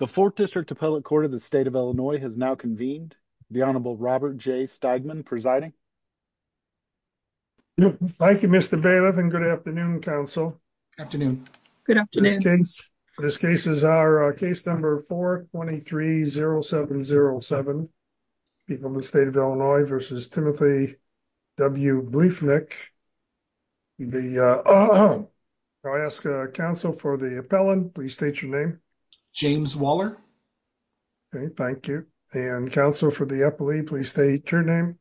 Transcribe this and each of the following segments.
The 4th District Appellate Court of the State of Illinois has now convened. The Honorable Robert J. Steigman presiding. Thank you, Mr. Bailiff and good afternoon, counsel. Afternoon. Good afternoon. This case is our case number 423-0707. People in the state of Illinois versus Timothy W. Bliefnick. I ask counsel for the appellant, please state your name. James Waller. Thank you. And counsel for the appellee, please state your name.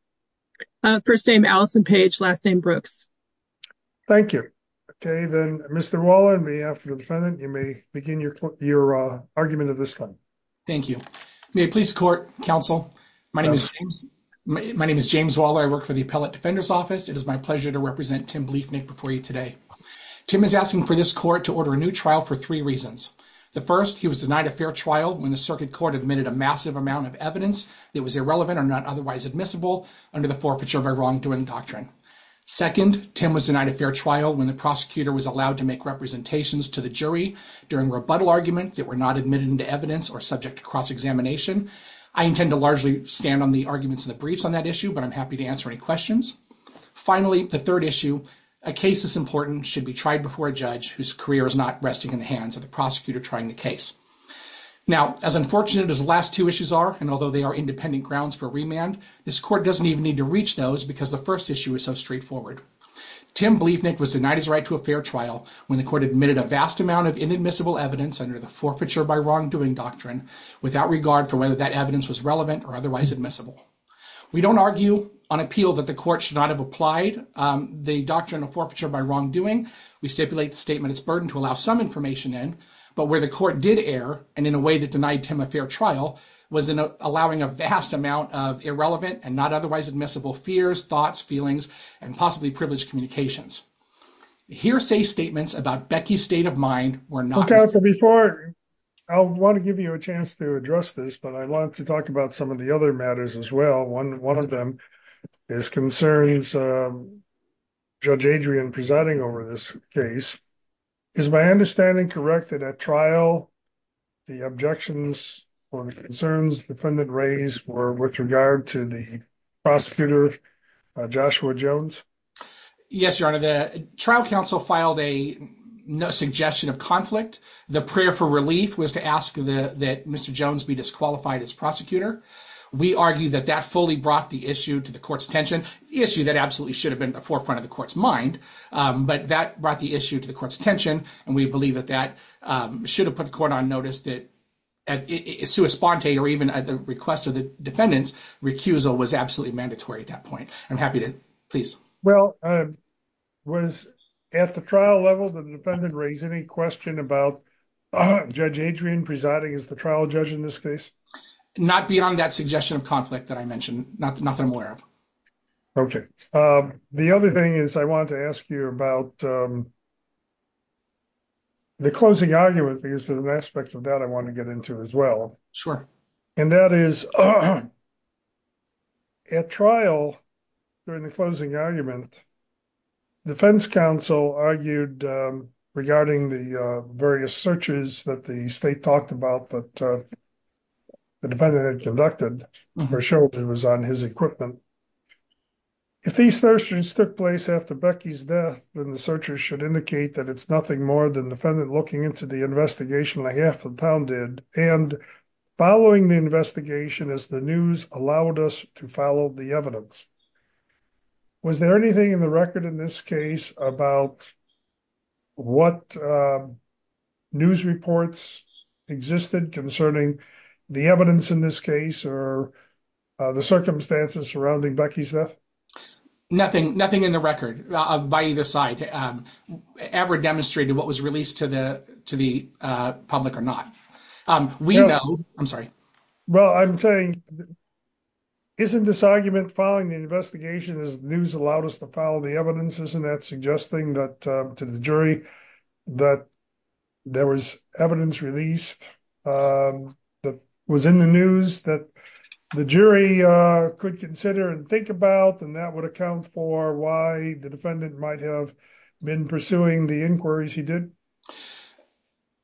First name, Allison Page, last name Brooks. Thank you. Okay, then Mr. Waller, on behalf of the defendant, you may begin your argument of this one. Thank you. May I please court, counsel? My name is James Waller. I work for the Appellate Defender's Office. It is my pleasure to represent Tim Bliefnick before you today. Tim is asking for this court to order a new trial for three reasons. The first, he was denied a fair trial when the circuit court admitted a massive amount of evidence that was irrelevant or not otherwise admissible under the forfeiture by wrongdoing doctrine. Second, Tim was denied a fair trial when the prosecutor was allowed to make representations to the jury during rebuttal argument that were not admitted into evidence or subject to cross-examination. I intend to largely stand on the arguments in the briefs on that issue, but I'm happy to answer any questions. Finally, the third issue, a case this important should be tried before a judge whose career is not resting in the hands of the prosecutor trying the case. Now, as unfortunate as the last two issues are, and although they are independent grounds for remand, this court doesn't even need to reach those because the first issue is so straightforward. Tim Bliefnick was denied his right to a fair trial when the court admitted a vast amount of inadmissible evidence under the forfeiture by wrongdoing doctrine without regard for whether that evidence was relevant or otherwise admissible. We don't argue on appeal that the court should not have applied the doctrine of forfeiture by wrongdoing. We stipulate the statement as burden to allow some information in, but where the court did err, and in a way that denied Tim a fair trial, was in allowing a vast amount of irrelevant and not otherwise admissible fears, thoughts, feelings, and possibly privileged communications. Hearsay statements about Becky's state of mind were not. Before I want to give you a chance to address this, but I want to talk about some of the other matters as well. One of them is concerns Judge Adrian presiding over this case. Is my understanding correct that at trial, the objections or concerns the defendant raised were with regard to the prosecutor, Joshua Jones? Yes, Your Honor, the trial counsel filed a suggestion of conflict. The prayer for relief was to ask that Mr. Jones be disqualified as prosecutor. We argue that that fully brought the issue to the court's attention issue that absolutely should have been at the forefront of the court's mind. But that brought the issue to the court's attention, and we believe that that should have put the court on notice that. It's to a sponte or even at the request of the defendant's recusal was absolutely mandatory at that point. I'm happy to please. Well, was at the trial level, the defendant raised any question about Judge Adrian presiding is the trial judge in this case. Not beyond that suggestion of conflict that I mentioned, not that I'm aware of. Okay. The other thing is I want to ask you about. The closing argument is an aspect of that I want to get into as well. And that is. At trial during the closing argument. Defense counsel argued regarding the various searches that the state talked about that. The defendant had conducted for sure it was on his equipment. If these searches took place after Becky's death, then the searchers should indicate that it's nothing more than the defendant looking into the investigation. I have found it and following the investigation as the news allowed us to follow the evidence. Was there anything in the record in this case about. What news reports existed concerning the evidence in this case, or the circumstances surrounding Becky's death? Nothing, nothing in the record by either side ever demonstrated what was released to the to the public or not. We know I'm sorry. Well, I'm saying. Isn't this argument following the investigation is news allowed us to follow the evidence isn't that suggesting that to the jury that. There was evidence released that was in the news that the jury could consider and think about and that would account for why the defendant might have been pursuing the inquiries he did.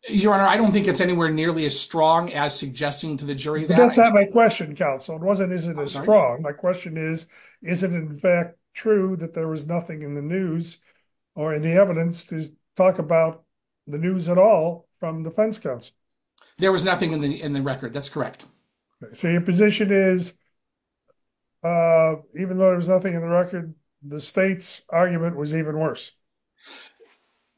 Your Honor, I don't think it's anywhere nearly as strong as suggesting to the jury. That's not my question. Counsel wasn't isn't as strong. My question is, is it in fact true that there was nothing in the news or in the evidence to talk about the news at all from defense counsel? There was nothing in the in the record. That's correct. So your position is. Even though there's nothing in the record, the state's argument was even worse.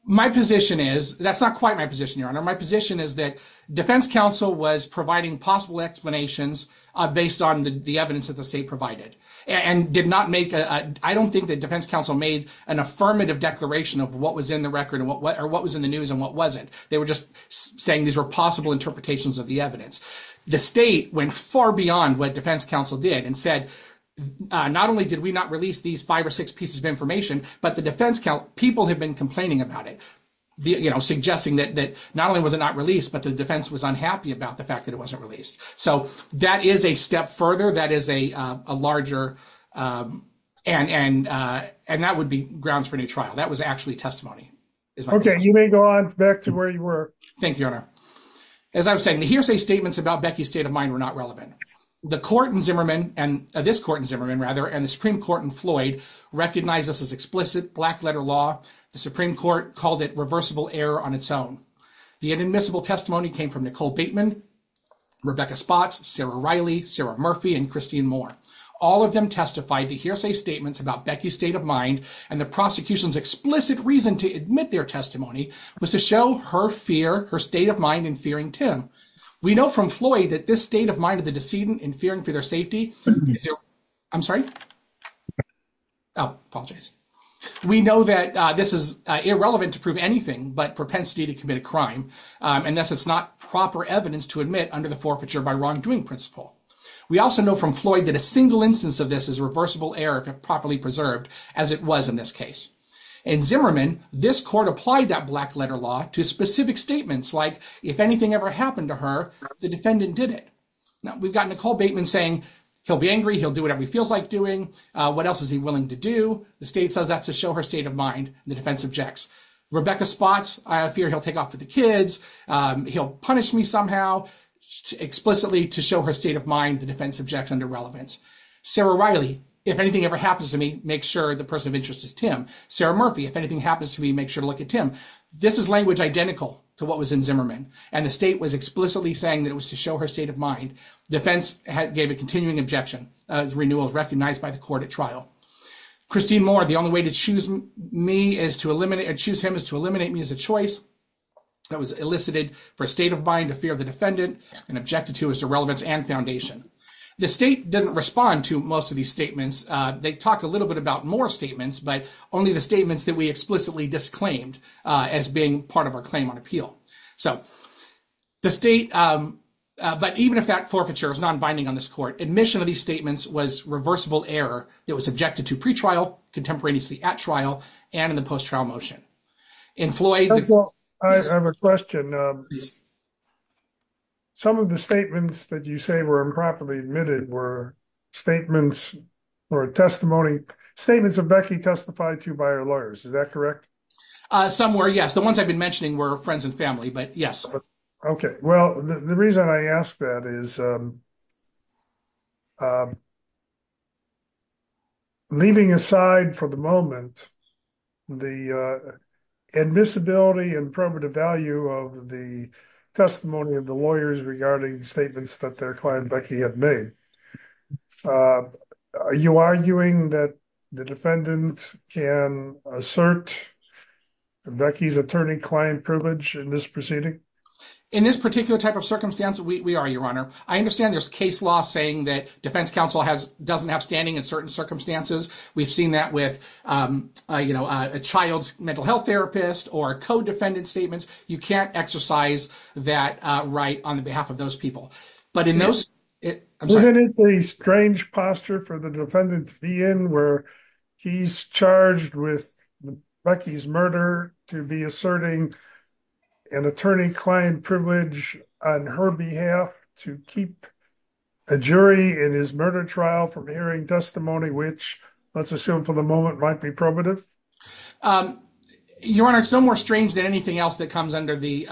My position is that's not quite my position. Your Honor, my position is that defense counsel was providing possible explanations based on the evidence that the state provided and did not make. I don't think that defense counsel made an affirmative declaration of what was in the record or what was in the news and what wasn't. They were just saying these were possible interpretations of the evidence. The state went far beyond what defense counsel did and said, not only did we not release these five or six pieces of information, but the defense people have been complaining about it. You know, suggesting that not only was it not released, but the defense was unhappy about the fact that it wasn't released. So that is a step further. That is a larger and and and that would be grounds for new trial. That was actually testimony. You may go on back to where you were. Thank you, Your Honor. As I was saying, the hearsay statements about Becky's state of mind were not relevant. The court in Zimmerman, and this court in Zimmerman rather, and the Supreme Court in Floyd recognized this as explicit black letter law. The Supreme Court called it reversible error on its own. The inadmissible testimony came from Nicole Bateman, Rebecca Spotts, Sarah Riley, Sarah Murphy, and Christine Moore. All of them testified to hearsay statements about Becky's state of mind and the prosecution's explicit reason to admit their testimony was to show her fear, her state of mind in fearing Tim. We know from Floyd that this state of mind of the decedent in fearing for their safety. I'm sorry. Oh, I apologize. We know that this is irrelevant to prove anything but propensity to commit a crime, unless it's not proper evidence to admit under the forfeiture by wrongdoing principle. We also know from Floyd that a single instance of this is reversible error if properly preserved as it was in this case. In Zimmerman, this court applied that black letter law to specific statements like if anything ever happened to her, the defendant did it. Now, we've got Nicole Bateman saying he'll be angry, he'll do whatever he feels like doing. What else is he willing to do? The state says that's to show her state of mind. The defense objects. Rebecca Spotts, I fear he'll take off with the kids. He'll punish me somehow explicitly to show her state of mind. The defense objects under relevance. Sarah Riley, if anything ever happens to me, make sure the person of interest is Tim. Sarah Murphy, if anything happens to me, make sure to look at Tim. This is language identical to what was in Zimmerman. And the state was explicitly saying that it was to show her state of mind. Defense gave a continuing objection. Renewal is recognized by the court at trial. Christine Moore, the only way to choose me is to eliminate or choose him is to eliminate me as a choice. That was elicited for a state of mind, a fear of the defendant, and objected to as to relevance and foundation. The state didn't respond to most of these statements. They talked a little bit about more statements, but only the statements that we explicitly disclaimed as being part of our claim on appeal. But even if that forfeiture is non-binding on this court, admission of these statements was reversible error. It was objected to pretrial, contemporaneously at trial, and in the post-trial motion. I have a question. Some of the statements that you say were improperly admitted were statements or testimony, statements of Becky testified to by her lawyers. Is that correct? Some were, yes. The ones I've been mentioning were friends and family, but yes. Okay. Well, the reason I ask that is, leaving aside for the moment the admissibility and primitive value of the testimony of the lawyers regarding statements that their client Becky had made, are you arguing that the defendant can assert Becky's attorney-client privilege in this proceeding? In this particular type of circumstance, we are, Your Honor. I understand there's case law saying that defense counsel doesn't have standing in certain circumstances. We've seen that with a child's mental health therapist or co-defendant statements. You can't exercise that right on behalf of those people. Isn't it a strange posture for the defendant to be in where he's charged with Becky's murder to be asserting an attorney-client privilege on her behalf to keep a jury in his murder trial from hearing testimony, which, let's assume for the moment, might be probative? Your Honor, it's no more strange than anything else that comes under the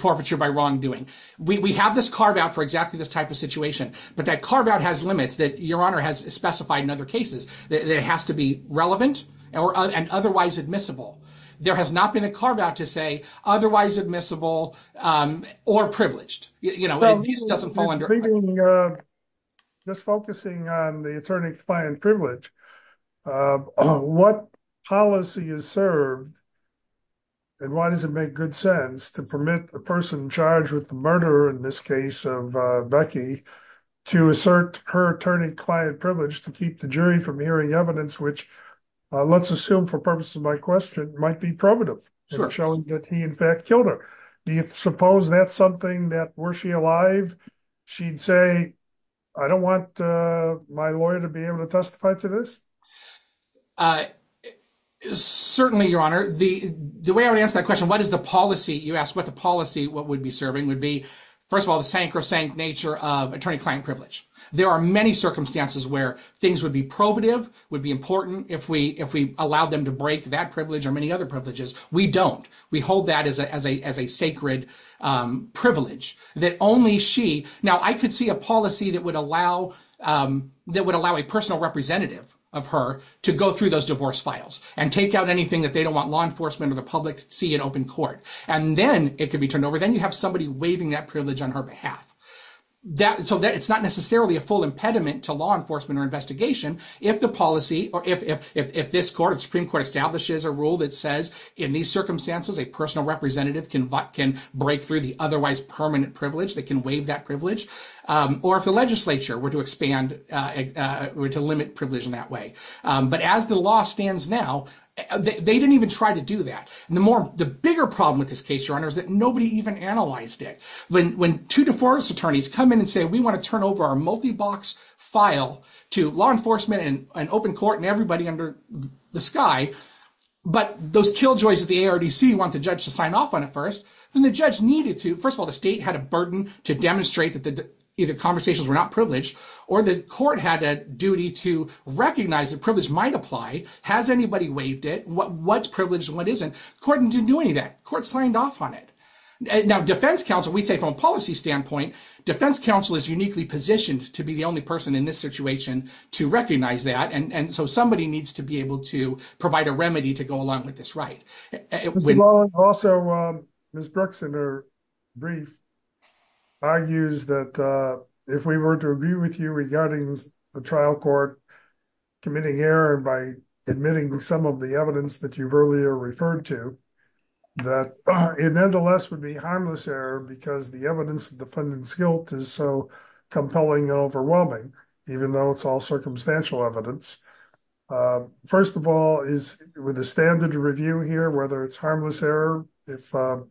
forfeiture by wrongdoing. We have this carve-out for exactly this type of situation, but that carve-out has limits that Your Honor has specified in other cases. It has to be relevant and otherwise admissible. There has not been a carve-out to say otherwise admissible or privileged. Just focusing on the attorney-client privilege, what policy is served and why does it make good sense to permit a person charged with the murder, in this case of Becky, to assert her attorney-client privilege to keep the jury from hearing evidence, which, let's assume for purposes of my question, might be probative in showing that he, in fact, killed her? Do you suppose that's something that, were she alive, she'd say, I don't want my lawyer to be able to testify to this? Certainly, Your Honor. The way I would answer that question, what is the policy, you asked what the policy would be serving, would be, first of all, the sank or sank nature of attorney-client privilege. There are many circumstances where things would be probative, would be important if we allowed them to break that privilege or many other privileges. We don't. We hold that as a sacred privilege that only she. Now, I could see a policy that would allow a personal representative of her to go through those divorce files and take out anything that they don't want law enforcement or the public to see in open court. And then it could be turned over. Then you have somebody waiving that privilege on her behalf. So it's not necessarily a full impediment to law enforcement or investigation if the policy or if this court, Supreme Court, establishes a rule that says, in these circumstances, a personal representative can break through the otherwise permanent privilege. They can waive that privilege. Or if the legislature were to expand, were to limit privilege in that way. But as the law stands now, they didn't even try to do that. The bigger problem with this case, Your Honor, is that nobody even analyzed it. When two divorce attorneys come in and say, we want to turn over our multi-box file to law enforcement and open court and everybody under the sky, but those killjoys of the ARDC want the judge to sign off on it first, then the judge needed to. First of all, the state had a burden to demonstrate that either conversations were not privileged or the court had a duty to recognize that privilege might apply. Has anybody waived it? What's privileged and what isn't? The court didn't do any of that. The court signed off on it. Now, defense counsel, we say from a policy standpoint, defense counsel is uniquely positioned to be the only person in this situation to recognize that. And so somebody needs to be able to provide a remedy to go along with this right. Also, Ms. Bruxton, her brief argues that if we were to agree with you regarding the trial court committing error by admitting some of the evidence that you've earlier referred to, that it nonetheless would be harmless error because the evidence of the defendant's guilt is so compelling and overwhelming, even though it's all circumstantial evidence. First of all, with the standard review here, whether it's harmless error, would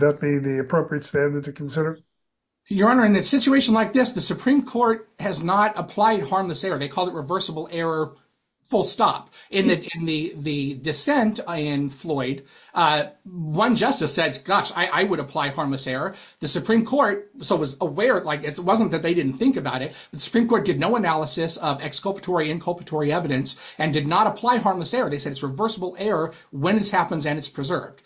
that be the appropriate standard to consider? Your Honor, in a situation like this, the Supreme Court has not applied harmless error. They call it reversible error full stop. In the dissent in Floyd, one justice said, gosh, I would apply harmless error. The Supreme Court, so was aware, like it wasn't that they didn't think about it. The Supreme Court did no analysis of exculpatory inculpatory evidence and did not apply harmless error. They said it's reversible error when this happens and it's preserved.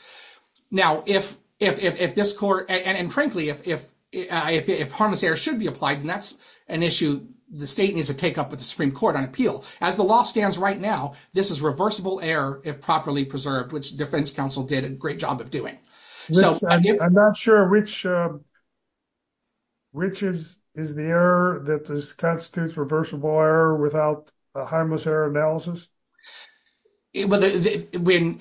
Now, if if this court and frankly, if if if if harmless error should be applied and that's an issue, the state needs to take up with the Supreme Court on appeal as the law stands right now. This is reversible error if properly preserved, which defense counsel did a great job of doing. So I'm not sure which. Which is is the error that constitutes reversible error without a harmless error analysis. But when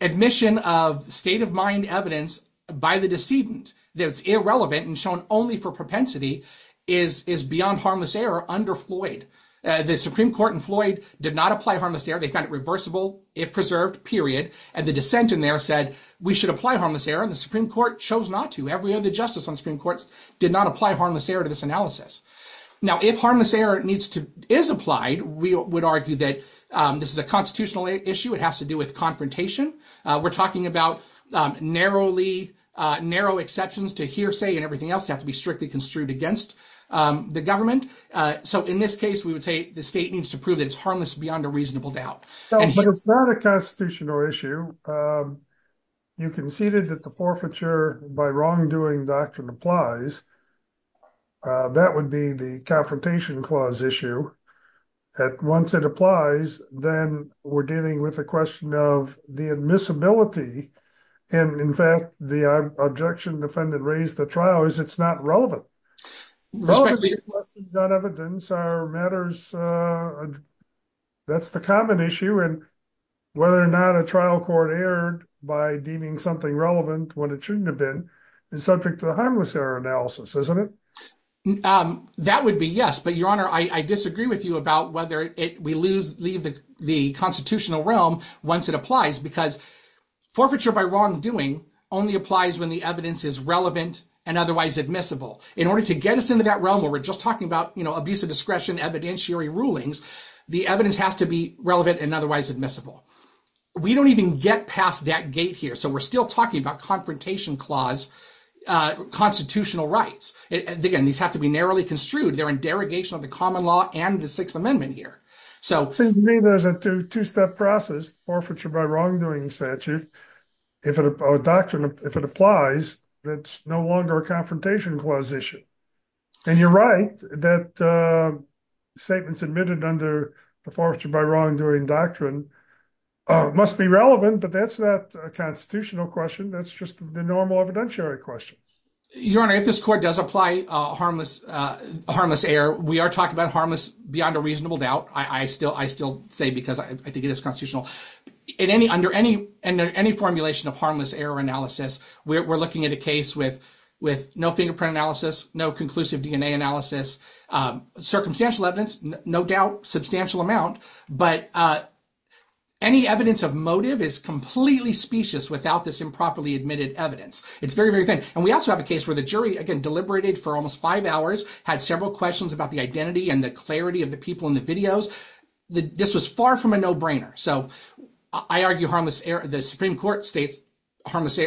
admission of state of mind evidence by the decedent that's irrelevant and shown only for propensity is is beyond harmless error under Floyd. The Supreme Court in Floyd did not apply harmless error. They found it reversible. It preserved period. And the dissent in there said we should apply harmless error. And the Supreme Court chose not to. Every other justice on Supreme Court's did not apply harmless error to this analysis. Now, if harmless error needs to is applied, we would argue that this is a constitutional issue. It has to do with confrontation. We're talking about narrowly narrow exceptions to hearsay and everything else have to be strictly construed against the government. So in this case, we would say the state needs to prove it's harmless beyond a reasonable doubt. It's not a constitutional issue. You conceded that the forfeiture by wrongdoing doctrine applies. That would be the confrontation clause issue. Once it applies, then we're dealing with a question of the admissibility. And in fact, the objection defendant raised the trial is it's not relevant. Not evidence matters. That's the common issue. And whether or not a trial court erred by deeming something relevant when it shouldn't have been is subject to the harmless error analysis, isn't it? That would be yes. But Your Honor, I disagree with you about whether we leave the constitutional realm once it applies. Because forfeiture by wrongdoing only applies when the evidence is relevant and otherwise admissible. In order to get us into that realm where we're just talking about abuse of discretion, evidentiary rulings, the evidence has to be relevant and otherwise admissible. We don't even get past that gate here. So we're still talking about confrontation clause constitutional rights. And again, these have to be narrowly construed. They're in derogation of the common law and the Sixth Amendment here. So to me, there's a two step process forfeiture by wrongdoing statute. If a doctrine, if it applies, that's no longer a confrontation clause issue. And you're right that statements admitted under the forfeiture by wrongdoing doctrine must be relevant. But that's not a constitutional question. That's just the normal evidentiary question. Your Honor, if this court does apply harmless, harmless error, we are talking about harmless beyond a reasonable doubt. I still I still say because I think it is constitutional in any under any and any formulation of harmless error analysis. We're looking at a case with with no fingerprint analysis, no conclusive DNA analysis, circumstantial evidence, no doubt, substantial amount. But any evidence of motive is completely specious without this improperly admitted evidence. It's very, very thin. And we also have a case where the jury, again, deliberated for almost five hours, had several questions about the identity and the clarity of the people in the videos. This was far from a no brainer. So I argue harmless. The Supreme Court states harmless.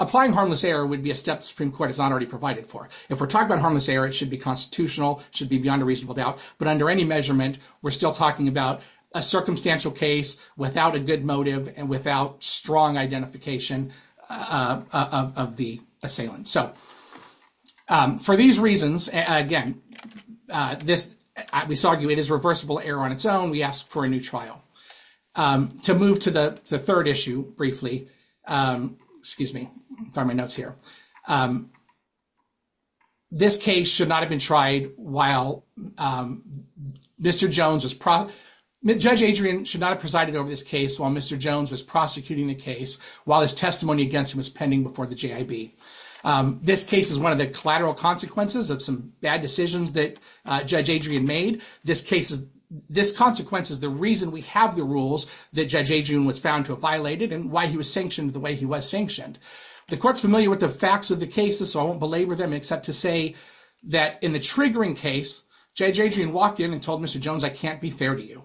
Applying harmless error would be a step. Supreme Court is not already provided for. If we're talking about harmless error, it should be constitutional, should be beyond a reasonable doubt. But under any measurement, we're still talking about a circumstantial case without a good motive and without strong identification. Of the assailant. So for these reasons, again, this we saw you. It is reversible error on its own. We ask for a new trial to move to the third issue. Briefly, excuse me for my notes here. This case should not have been tried while Mr. Jones was. Judge Adrian should not have presided over this case while Mr. Jones was prosecuting the case, while his testimony against him was pending before the GIB. This case is one of the collateral consequences of some bad decisions that Judge Adrian made. This case is this consequence is the reason we have the rules that Judge Adrian was found to have violated and why he was sanctioned the way he was sanctioned. The court's familiar with the facts of the cases, so I won't belabor them, except to say that in the triggering case, Judge Adrian walked in and told Mr. Jones, I can't be fair to you.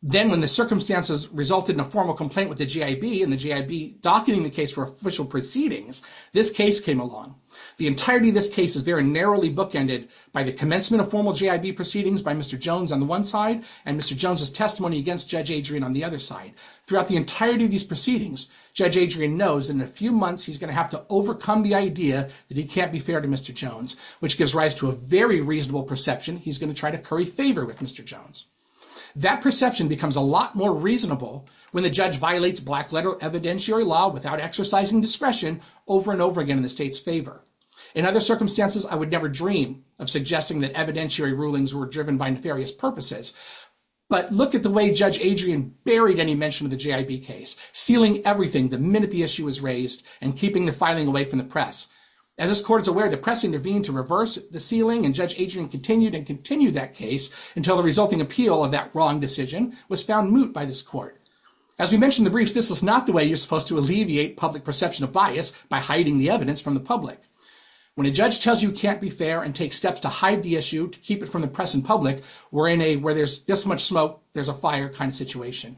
Then, when the circumstances resulted in a formal complaint with the GIB and the GIB docketing the case for official proceedings, this case came along. The entirety of this case is very narrowly bookended by the commencement of formal GIB proceedings by Mr. Jones on the one side and Mr. Jones's testimony against Judge Adrian on the other side. Throughout the entirety of these proceedings, Judge Adrian knows in a few months he's going to have to overcome the idea that he can't be fair to Mr. Jones, which gives rise to a very reasonable perception. He's going to try to curry favor with Mr. Jones. That perception becomes a lot more reasonable when the judge violates black letter evidentiary law without exercising discretion over and over again in the state's favor. In other circumstances, I would never dream of suggesting that evidentiary rulings were driven by nefarious purposes. But look at the way Judge Adrian buried any mention of the GIB case, sealing everything the minute the issue was raised and keeping the filing away from the press. As this court is aware, the press intervened to reverse the sealing and Judge Adrian continued and continued that case until the resulting appeal of that wrong decision was found moot by this court. As we mentioned in the brief, this is not the way you're supposed to alleviate public perception of bias by hiding the evidence from the public. When a judge tells you can't be fair and take steps to hide the issue to keep it from the press and public, we're in a where there's this much smoke, there's a fire kind of situation.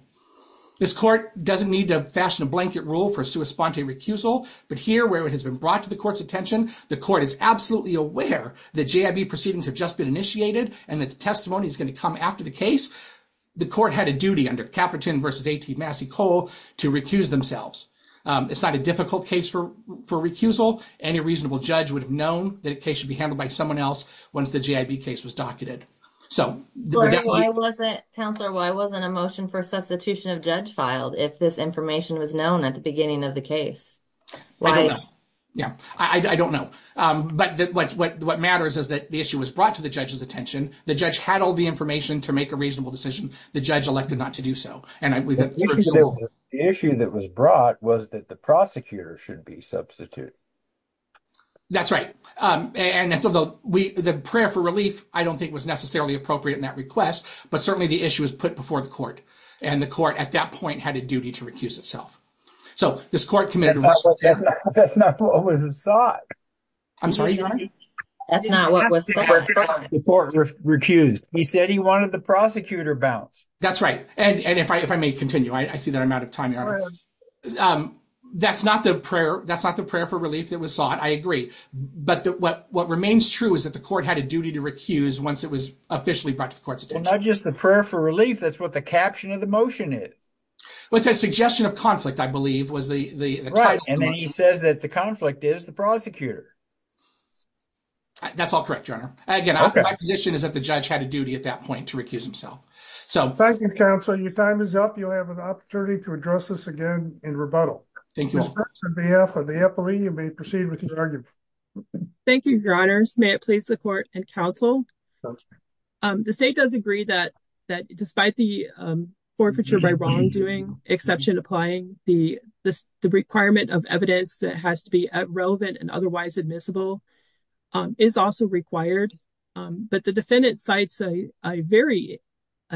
This court doesn't need to fashion a blanket rule for sua sponte recusal. But here, where it has been brought to the court's attention, the court is absolutely aware that GIB proceedings have just been initiated and that the testimony is going to come after the case. The court had a duty under Caperton v. A.T. Massey-Cole to recuse themselves. It's not a difficult case for recusal. Any reasonable judge would have known that a case should be handled by someone else once the GIB case was docketed. Why wasn't a motion for substitution of judge filed if this information was known at the beginning of the case? I don't know. But what matters is that the issue was brought to the judge's attention. The judge had all the information to make a reasonable decision. The judge elected not to do so. The issue that was brought was that the prosecutor should be substituted. That's right. The prayer for relief, I don't think, was necessarily appropriate in that request. But certainly the issue was put before the court. And the court, at that point, had a duty to recuse itself. So this court committed... That's not what was sought. I'm sorry, Your Honor? That's not what was sought. The court recused. He said he wanted the prosecutor balanced. That's right. And if I may continue, I see that I'm out of time, Your Honor. That's not the prayer for relief that was sought. I agree. But what remains true is that the court had a duty to recuse once it was officially brought to the court's attention. Well, not just the prayer for relief. That's what the caption of the motion is. Well, it says suggestion of conflict, I believe, was the title. Right. And then he says that the conflict is the prosecutor. That's all correct, Your Honor. Again, my position is that the judge had a duty at that point to recuse himself. Thank you, counsel. Your time is up. You'll have an opportunity to address this again in rebuttal. Thank you. You may proceed with your argument. Thank you. Your Honor. May I please the court and counsel? The state does agree that that despite the forfeiture by wrongdoing exception applying the requirement of evidence that has to be relevant and otherwise admissible is also required. But the defendant sites a very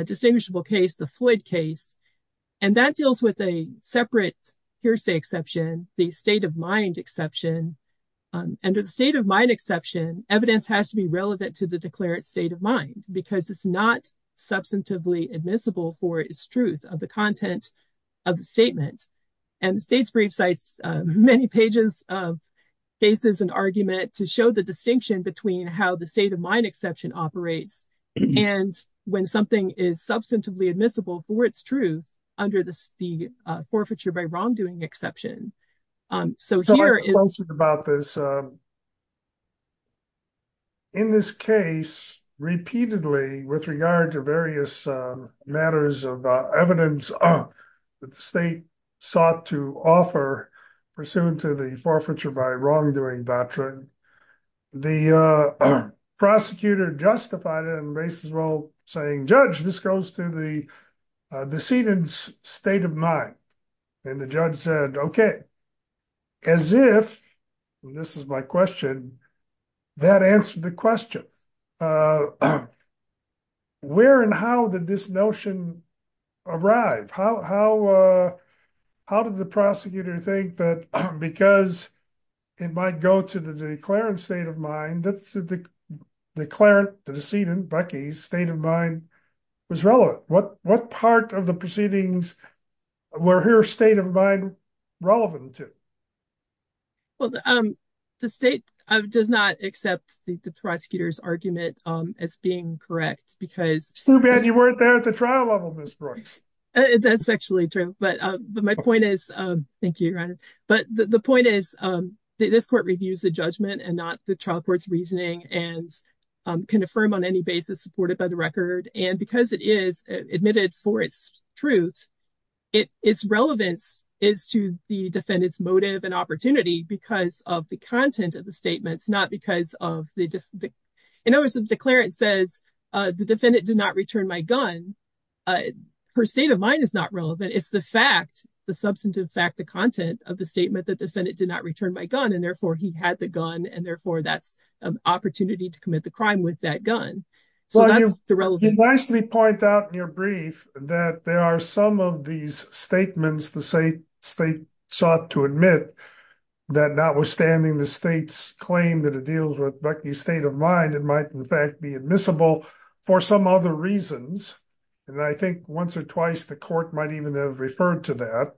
distinguishable case, the Floyd case, and that deals with a separate hearsay exception, the state of mind exception. Under the state of mind exception, evidence has to be relevant to the declared state of mind because it's not substantively admissible for its truth of the content of the statement. And the state's brief sites many pages of cases and argument to show the distinction between how the state of mind exception operates. And when something is substantively admissible for its truth under the forfeiture by wrongdoing exception. So here is about this. In this case repeatedly with regard to various matters of evidence that the state sought to offer pursuant to the forfeiture by wrongdoing doctrine. The prosecutor justified it and raised his role saying, judge, this goes to the decedent's state of mind. And the judge said, okay. As if, this is my question, that answered the question. Where and how did this notion arrive? How did the prosecutor think that because it might go to the declarant's state of mind, the decedent, Becky's, state of mind was relevant? What part of the proceedings were her state of mind relevant to? Well, the state does not accept the prosecutor's argument as being correct It's too bad you weren't there at the trial level, Ms. Brooks. That's actually true. But my point is, thank you, Your Honor. But the point is, this court reviews the judgment and not the trial court's reasoning and can affirm on any basis supported by the record. And because it is admitted for its truth, its relevance is to the defendant's motive and opportunity because of the content of the statements, not because In other words, the declarant says, the defendant did not return my gun. Her state of mind is not relevant. It's the fact, the substantive fact, the content of the statement that the defendant did not return my gun, and therefore he had the gun, and therefore that's an opportunity to commit the crime with that gun. So that's the relevance. You nicely point out in your brief that there are some of these statements the state sought to admit that notwithstanding the state's claim that it might in fact be admissible for some other reasons. And I think once or twice the court might even have referred to that.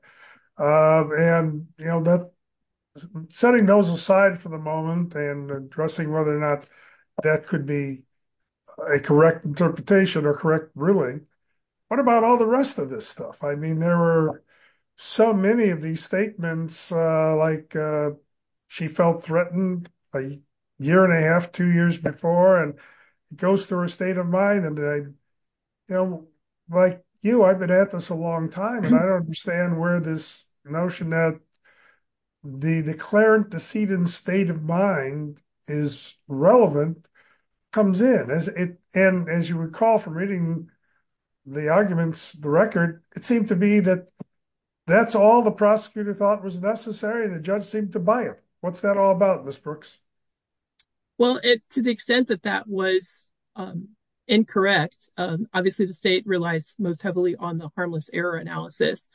And, you know, setting those aside for the moment and addressing whether or not that could be a correct interpretation or correct ruling, what about all the rest of this stuff? I mean, there were so many of these statements, like she felt threatened a year and a half, two years before, and it goes through her state of mind. And, you know, like you, I've been at this a long time, and I don't understand where this notion that the declarant, the seated state of mind is relevant comes in. And as you recall from reading the arguments, the record, it seemed to be that that's all the prosecutor thought was necessary. The judge seemed to buy it. What's that all about, Ms. Brooks? Well, to the extent that that was incorrect, obviously the state relies most heavily on the harmless error analysis.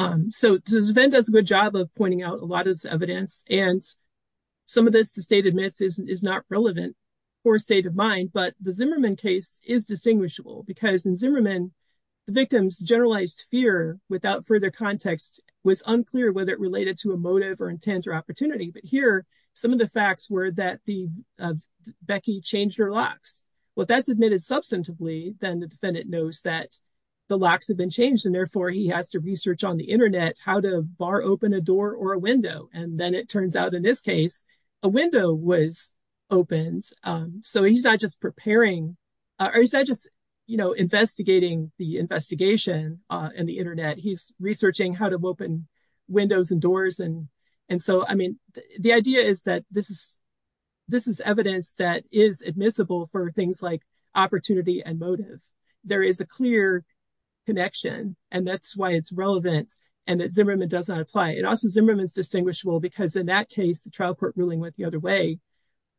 So the defendant does a good job of pointing out a lot of this evidence, and some of this the state admits is not relevant for state of mind. But the Zimmerman case is distinguishable because in Zimmerman the victim's generalized fear without further context was unclear whether it related to a some of the facts were that Becky changed her locks. Well, if that's admitted substantively, then the defendant knows that the locks have been changed, and therefore he has to research on the Internet how to bar open a door or a window. And then it turns out in this case a window was opened. So he's not just preparing, or he's not just, you know, investigating the investigation in the Internet. He's researching how to open windows and doors. And so, I mean, the idea is that this is evidence that is admissible for things like opportunity and motive. There is a clear connection, and that's why it's relevant and that Zimmerman does not apply. And also Zimmerman is distinguishable because in that case the trial court ruling went the other way,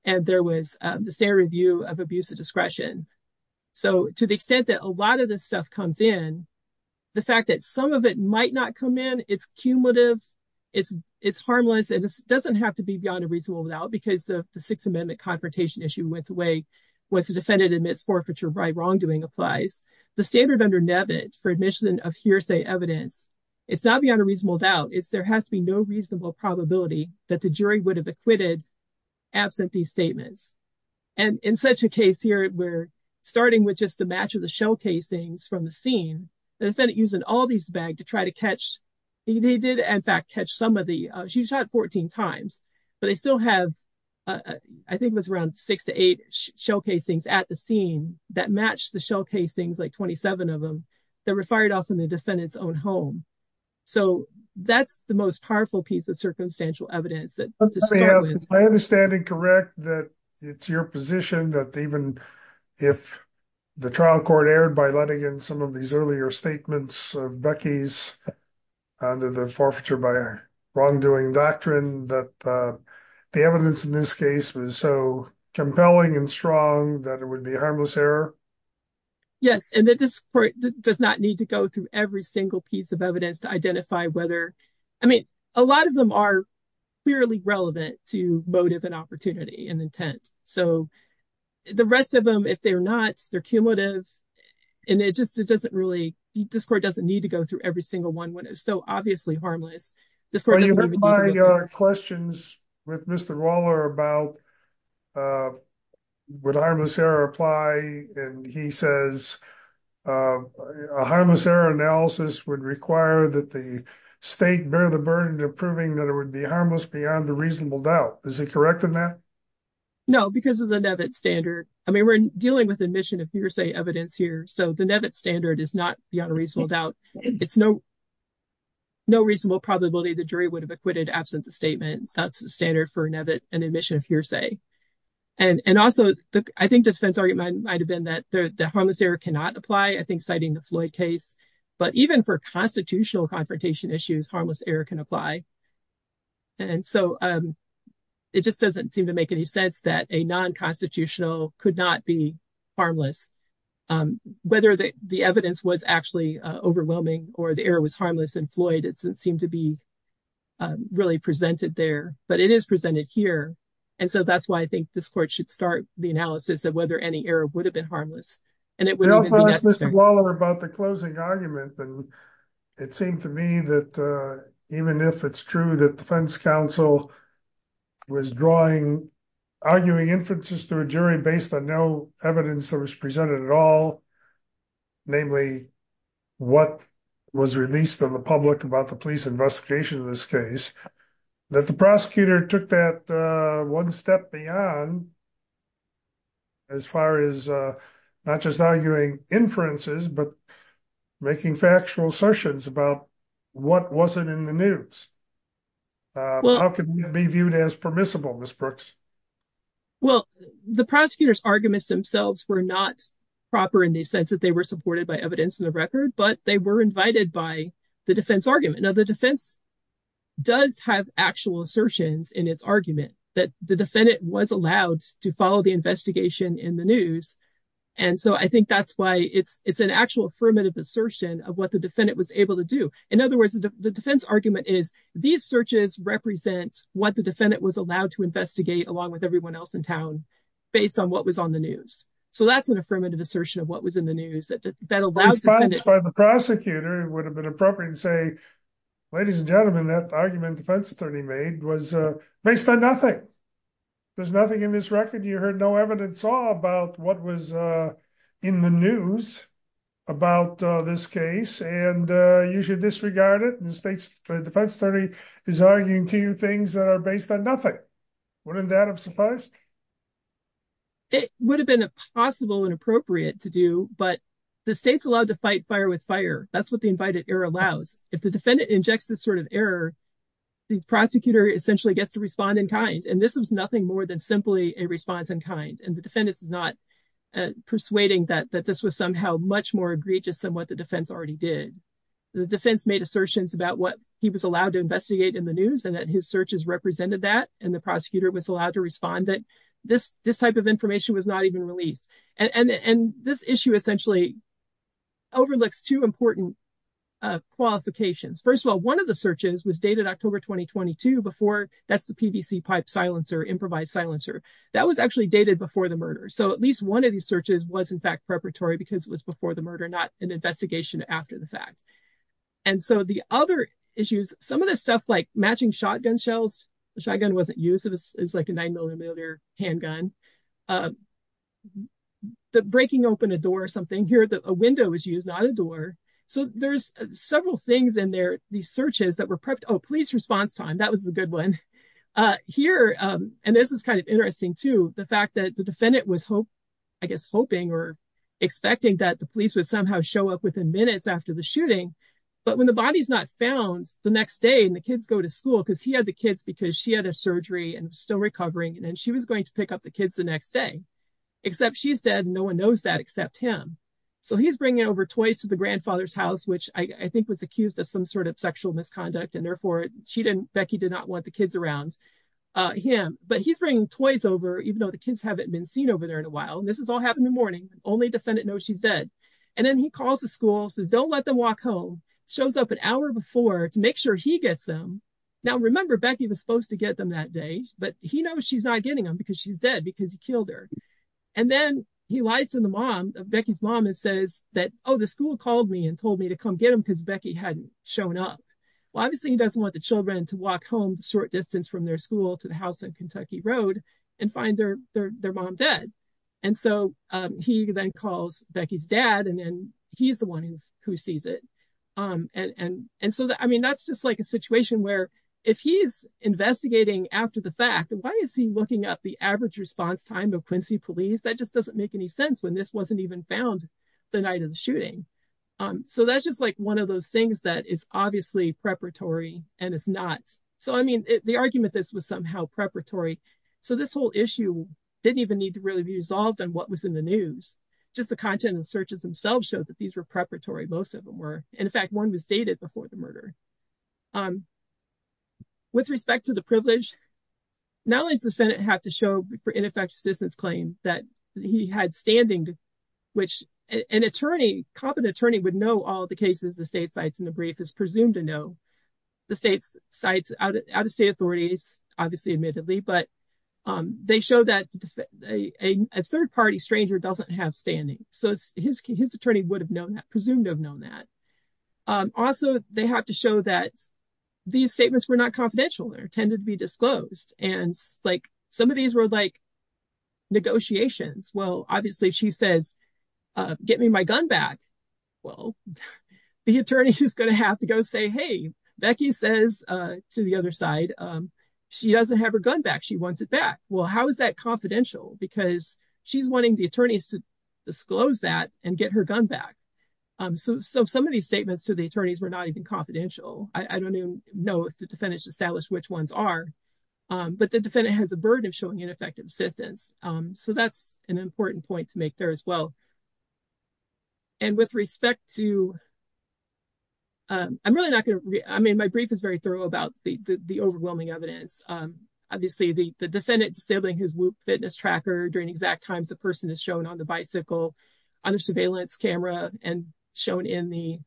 and there was the standard review of abuse of So to the extent that a lot of this stuff comes in, the fact that some of it is harmless and it doesn't have to be beyond a reasonable doubt because the Sixth Amendment confrontation issue went away once the defendant admits forfeiture by wrongdoing applies. The standard under Nevitt for admission of hearsay evidence, it's not beyond a reasonable doubt. It's there has to be no reasonable probability that the jury would have acquitted absent these statements. And in such a case here, we're starting with just a match of the shell casings from the scene. The defendant using all these bags to try to catch. He did, in fact, catch somebody. She shot 14 times, but they still have, I think, was around six to eight shell casings at the scene that match the shell casings, like 27 of them that were fired off in the defendant's own home. So that's the most powerful piece of circumstantial evidence that I understand and correct that it's your position that even if the trial court was prepared by letting in some of these earlier statements of Becky's under the forfeiture by wrongdoing doctrine, that the evidence in this case was so compelling and strong that it would be a harmless error? Yes. And that this court does not need to go through every single piece of evidence to identify whether, I mean, a lot of them are clearly relevant to motive and opportunity and intent. So the rest of them, if they're not, they're cumulative. And it just doesn't really – this court doesn't need to go through every single one when it's so obviously harmless. Are you applying questions with Mr. Waller about would harmless error apply? And he says a harmless error analysis would require that the state bear the burden of proving that it would be harmless beyond a reasonable doubt. Is he correct in that? No, because of the Nevitt standard. I mean, we're dealing with admission of hearsay evidence here, so the Nevitt standard is not beyond a reasonable doubt. It's no reasonable probability the jury would have acquitted absent a statement. That's the standard for Nevitt and admission of hearsay. And also, I think the defense argument might have been that the harmless error cannot apply, I think, citing the Floyd case. But even for constitutional confrontation issues, harmless error can apply. And so it just doesn't seem to make any sense that a nonconstitutional could not be harmless. Whether the evidence was actually overwhelming or the error was harmless in Floyd, it doesn't seem to be really presented there. But it is presented here. And so that's why I think this court should start the analysis of whether any error would have been harmless. And it wouldn't be necessary. They also asked Mr. Waller about the closing argument. And it seemed to me that even if it's true that defense counsel was drawing arguing inferences to a jury based on no evidence that was presented at all, namely what was released to the public about the police investigation of this case, that the prosecutor took that one step beyond as far as not just arguing inferences but making factual assertions about what wasn't in the news. How can that be viewed as permissible, Ms. Brooks? Well, the prosecutor's arguments themselves were not proper in the sense that they were supported by evidence in the record, but they were invited by the defense argument. Now, the defense does have actual assertions in its argument that the defendant was allowed to follow the investigation in the news. And so I think that's why it's an actual affirmative assertion of what the defendant was able to do. In other words, the defense argument is these searches represent what the defendant was allowed to investigate along with everyone else in town based on what was on the news. So that's an affirmative assertion of what was in the news. The response by the prosecutor would have been appropriate to say, ladies and gentlemen, that argument the defense attorney made was based on nothing. There's nothing in this record. You heard no evidence at all about what was in the news about this case, and you should disregard it. The defense attorney is arguing to you things that are based on nothing. Wouldn't that have sufficed? It would have been possible and appropriate to do, but the state's allowed to fight fire with fire. That's what the invited error allows. If the defendant injects this sort of error, the prosecutor essentially gets to respond in kind. And this was nothing more than simply a response in kind. And the defendant is not persuading that this was somehow much more egregious than what the defense already did. The defense made assertions about what he was allowed to investigate in the news and that his searches represented that. And the prosecutor was allowed to respond that this type of information was not even released. This issue essentially overlooks two important qualifications. First of all, one of the searches was dated October 2022. That's the PVC pipe silencer, improvised silencer. That was actually dated before the murder. So at least one of these searches was in fact preparatory because it was before the murder, not an investigation after the fact. And so the other issues, some of this stuff like matching shotgun shells, the shotgun wasn't used. This is like a nine millimeter handgun. The breaking open a door or something. Here a window was used, not a door. So there's several things in there, these searches that were prepped. Oh, police response time. That was the good one. Here, and this is kind of interesting too, the fact that the defendant was, I guess, hoping or expecting that the police would somehow show up within minutes after the shooting. But when the body's not found the next day and the kids go to school, because he had the kids because she had a surgery and still recovering. And then she was going to pick up the kids the next day, except she's dead. No one knows that except him. So he's bringing over toys to the grandfather's house, which I think was accused of some sort of sexual misconduct. And therefore she didn't, Becky did not want the kids around him, but he's bringing toys over, even though the kids haven't been seen over there in a while. And this has all happened in the morning. Only defendant knows she's dead. And then he calls the school, says, don't let them walk home. Shows up an hour before to make sure he gets them. Now remember Becky was supposed to get them that day, but he knows she's not getting them because she's dead because he killed her. And then he lies to the mom of Becky's mom and says that, Oh, the school called me and told me to come get them because Becky hadn't shown up. Well, obviously he doesn't want the children to walk home short distance from their school to the house in Kentucky road and find their, their, their mom dead. And so he then calls Becky's dad and then he's the one who sees it. And, and, and so that, I mean, that's just like a situation where if he's investigating after the fact, why is he looking up the average response time of Quincy police? That just doesn't make any sense when this wasn't even found the night of the shooting. So that's just like one of those things that is obviously preparatory and it's not. So, I mean, the argument, this was somehow preparatory. So this whole issue didn't even need to really be resolved on what was in the news. Just the content and searches themselves showed that these were preparatory. Most of them were. And in fact, one was dated before the murder. With respect to the privilege. Not only is the Senate have to show for ineffective assistance claim that he had standing. Which an attorney competent attorney would know all the cases, the state sites in the brief is presumed to know. The state's sites out of state authorities, obviously admittedly, but. They show that a third party stranger doesn't have standing. So his, his attorney would have known that, presumed to have known that also they have to show that. These statements were not confidential. There tended to be disclosed and like some of these were like. Negotiations. Well, obviously she says. Get me my gun back. Well, The attorney is going to have to go say, Hey, Becky says to the other side. She doesn't have her gun back. She wants it back. Well, how is that confidential? Because she's wanting the attorneys to. Disclose that and get her gun back. So some of these statements to the attorneys were not even confidential. I don't even know if the defendants establish which ones are. But the defendant has a burden of showing ineffective assistance. So that's an important point to make there as well. And with respect to. I'm really not going to, I mean, my brief is very thorough about the, the overwhelming evidence. Obviously the defendant disabling his loop fitness tracker during exact times. The person is shown on the bicycle. Under surveillance camera and shown in the.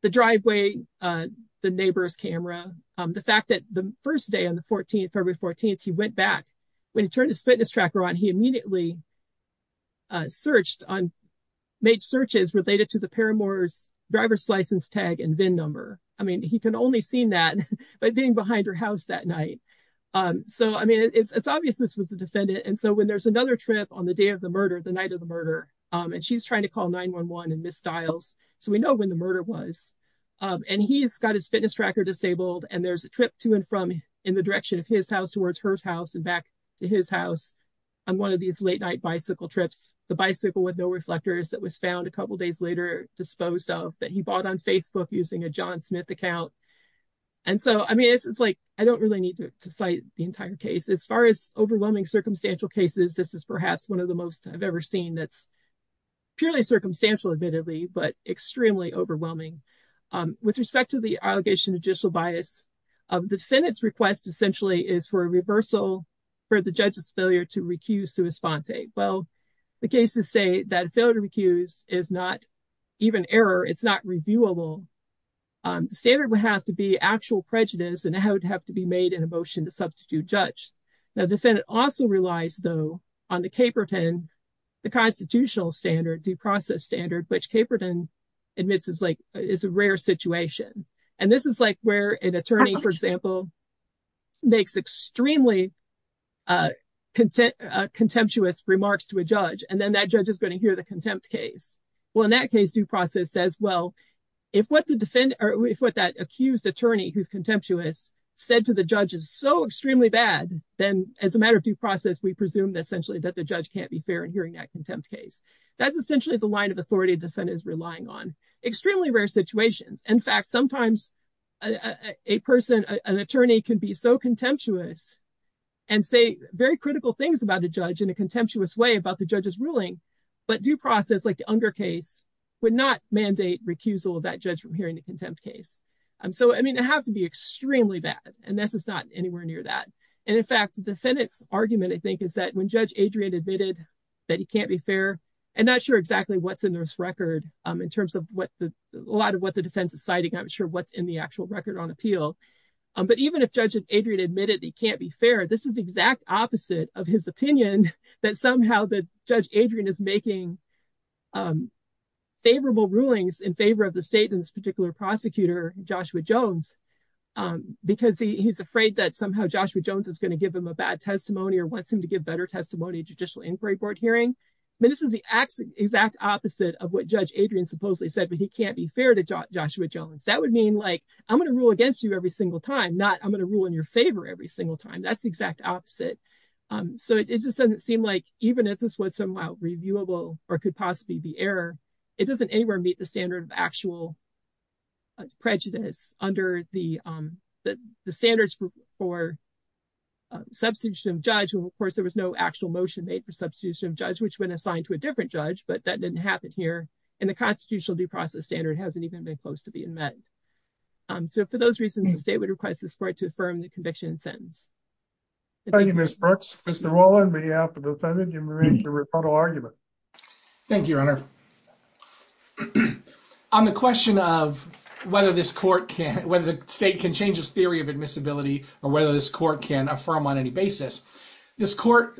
The driveway, the neighbor's camera. The fact that the 1st day on the 14th, February 14th, he went back. When he turned his fitness tracker on, he immediately. Searched on. And he made searches related to the Paramore's. Driver's license tag and VIN number. I mean, he can only seen that. But being behind her house that night. So, I mean, it's, it's obvious this was a defendant. And so when there's another trip on the day of the murder, the night of the murder. And she's trying to call nine one one and miss styles. So we know when the murder was. And he's got his fitness tracker disabled and there's a trip to and from. In the direction of his house towards her house and back to his house. And so, I mean, this is like, I don't really need to cite the entire case. As far as overwhelming circumstantial cases. This is perhaps one of the most I've ever seen. That's. Purely circumstantial admittedly, but extremely overwhelming. With respect to the allegation of judicial bias. Defendants request essentially is for a reversal. For the judge's failure to recuse. Well, the cases say that failure to recuse is not. Even error. It's not reviewable. Standard would have to be actual prejudice and how it would have to be made in a motion to substitute judge. Now, the defendant also relies though on the Caperton. The constitutional standard due process standard, which Caperton. Admits is like, is a rare situation. And this is like where an attorney, for example. Makes extremely. Content contemptuous remarks to a judge. And then that judge is going to hear the contempt case. Well, in that case, due process says, well. If what the defendant or if what that accused attorney who's contemptuous said to the judge is so extremely bad. Then as a matter of due process, we presume that essentially that the judge can't be fair in hearing that contempt case. That's essentially the line of authority. Defendants relying on extremely rare situations. In fact, sometimes. A person, an attorney can be so contemptuous. And say very critical things about a judge in a contemptuous way about the judge's ruling. But due process, like the under case. Would not mandate recusal that judge from hearing the contempt case. So, I mean, it has to be extremely bad and this is not anywhere near that. And in fact, the defendants argument, I think, is that when judge Adrian admitted. That he can't be fair and not sure exactly what's in this record in terms of what the, a lot of what the defense is citing. I'm sure what's in the actual record on appeal. But even if judge Adrian admitted, he can't be fair. This is the exact opposite of his opinion that somehow the judge Adrian is making. Favorable rulings in favor of the state in this particular prosecutor, Joshua Jones. Because he's afraid that somehow Joshua Jones is going to give him a bad testimony or wants him to give better testimony. Judicial inquiry board hearing. I mean, this is the exact opposite of what judge Adrian supposedly said, but he can't be fair to Joshua Jones. That would mean like, I'm going to rule against you every single time. Not I'm going to rule in your favor every single time. That's the exact opposite. So it just doesn't seem like even if this was somehow reviewable or could possibly be error. It doesn't anywhere meet the standard of actual. Prejudice under the. The standards for. Substitution judge. So, of course, there was no actual motion made for substitution of judge, which went assigned to a different judge, but that didn't happen here. And the constitutional due process standard hasn't even been close to being met. So for those reasons, the state would request this court to affirm the conviction sentence. Thank you, Mr. Brooks. Mr. Rollin may have a defendant. Thank you, your honor. On the question of whether this court can, whether the state can change this theory of admissibility or whether this court can affirm on any basis, this court.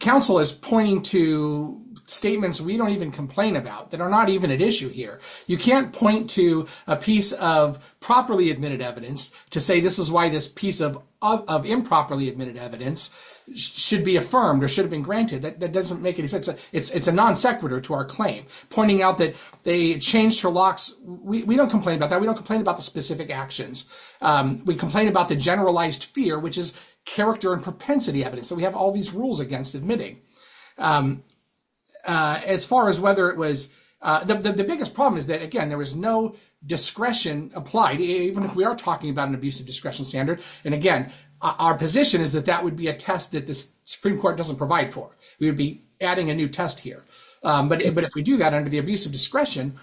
Counsel is pointing to statements. We don't even complain about that are not even at issue here. You can't point to a piece of properly admitted evidence to say, this is why this piece of, of, of improperly admitted evidence should be affirmed or should have been granted. That doesn't make any sense. It's a non sequitur to our claim pointing out that they changed her locks. We don't complain about that. We don't complain about the specific actions. We complain about the generalized fear, which is character and propensity evidence. So we have all these rules against admitting. As far as whether it was the biggest problem is that again, there was no discretion applied. Even if we are talking about an abuse of discretion standard. And again, our position is that that would be a test that the Supreme court doesn't provide for. We would be adding a new test here. But if we do that under the abuse of discretion,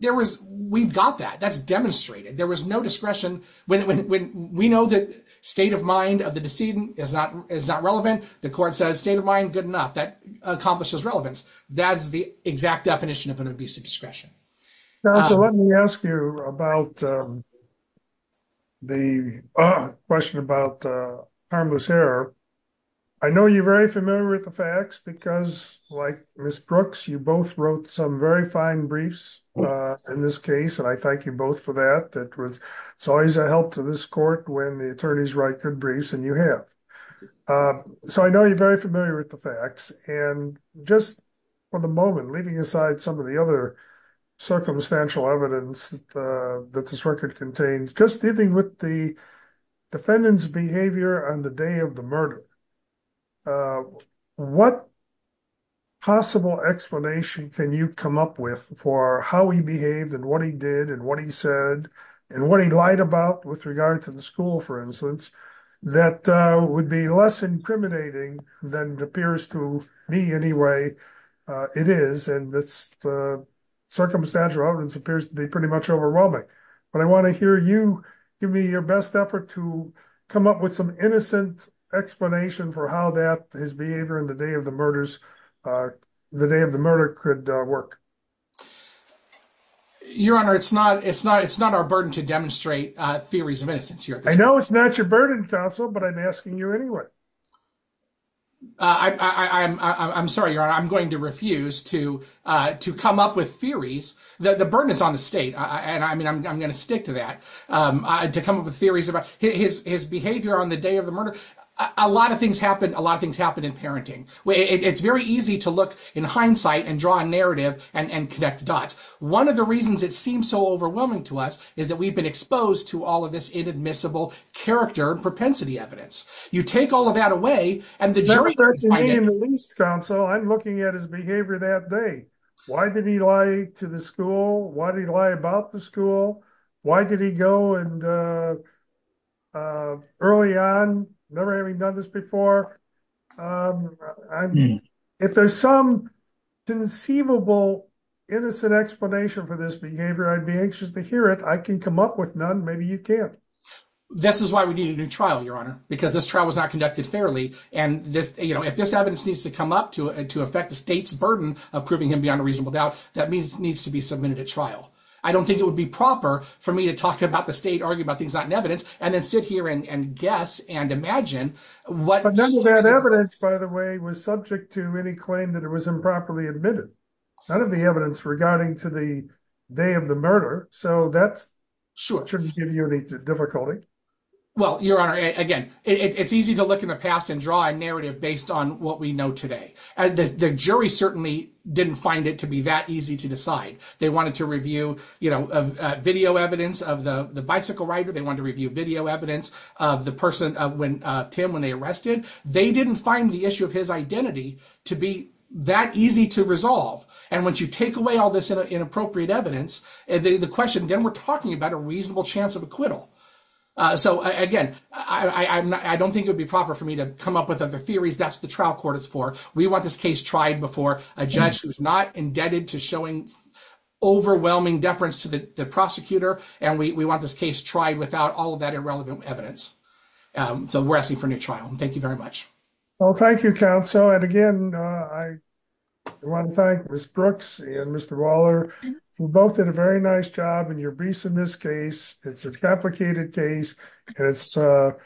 there was, we've got that that's demonstrated. There was no discretion when, when we know that state of mind of the decedent is not, is not relevant. The court says state of mind, good enough. That accomplishes relevance. That's the exact definition of an abuse of discretion. So let me ask you about. The question about harmless hair. I know you're very familiar with the facts because like Ms. Brooks, you both wrote some very fine briefs in this case. And I thank you both for that. That was always a help to this court when the attorneys write good briefs and you have, so I know you're very familiar with the facts. And just for the moment, leaving aside some of the other circumstantial evidence that this record contains, just dealing with the defendant's behavior on the day of the murder. What possible explanation can you come up with for how he behaved and what he did and what he said and what he lied about with regard to the school, for instance, that would be less incriminating than it appears to be anyway. It is. And that's the circumstantial evidence appears to be pretty much overwhelming. But I want to hear you give me your best effort to come up with some innocent explanation for how that his behavior in the day of the murders, the day of the murder could work. Your Honor, it's not, it's not, it's not our burden to demonstrate theories of innocence here. I know it's not your burden counsel, but I'm asking you anyway. I, I, I, I'm, I'm sorry, Your Honor. I'm going to refuse to, to come up with theories that the burden is on the state. And I mean, I'm going to stick to that. I had to come up with theories about his, his behavior on the day of the murder. A lot of things happen. A lot of things happen in parenting. It's very easy to look in hindsight and draw a narrative and, and connect the dots. One of the reasons it seems so overwhelming to us is that we've been exposed to all of this inadmissible character propensity evidence. You take all of that away and the jury. Counsel, I'm looking at his behavior that day. Why did he lie to the school? Why did he lie about the school? Why did he go and early on, never having done this before? I mean, if there's some conceivable, innocent explanation for this behavior, I'd be anxious to hear it. I can come up with none. Maybe you can't. This is why we need a new trial, Your Honor, because this trial was not conducted fairly. And this, you know, if this evidence needs to come up to it and to affect the state's burden of proving him beyond a reasonable doubt, that means needs to be submitted to trial. I don't think it would be proper for me to talk about the state, argue about things, not in evidence, and then sit here and guess and imagine what evidence, by the way, was subject to any claim that it was improperly admitted. None of the evidence regarding to the day of the murder. So that shouldn't give you any difficulty. Well, Your Honor, again, it's easy to look in the past and draw a narrative based on what we know today. The jury certainly didn't find it to be that easy to decide. They wanted to review, you know, video evidence of the bicycle rider. They wanted to review video evidence of the person when Tim, when they arrested, they didn't find the issue of his identity to be that easy to resolve. And once you take away all this inappropriate evidence, the question then we're talking about a reasonable chance of acquittal. So again, I don't think it would be proper for me to come up with other theories. That's the trial court is for. We want this case tried before a judge who's not indebted to showing overwhelming deference to the prosecutor. And we want this case tried without all of that irrelevant evidence. So we're asking for a new trial. Thank you very much. Well, thank you, counsel. And again, I want to thank Ms. Brooks and Mr. Waller. You both did a very nice job in your briefs in this case. It's a complicated case and it's a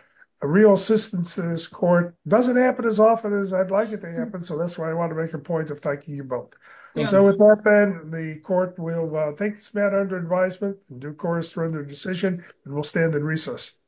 real assistance to this court. Doesn't happen as often as I'd like it to happen. So that's why I want to make a point of thanking you both. So with that then, the court will take this matter under advisement and do course for the decision. And we'll stand in recess.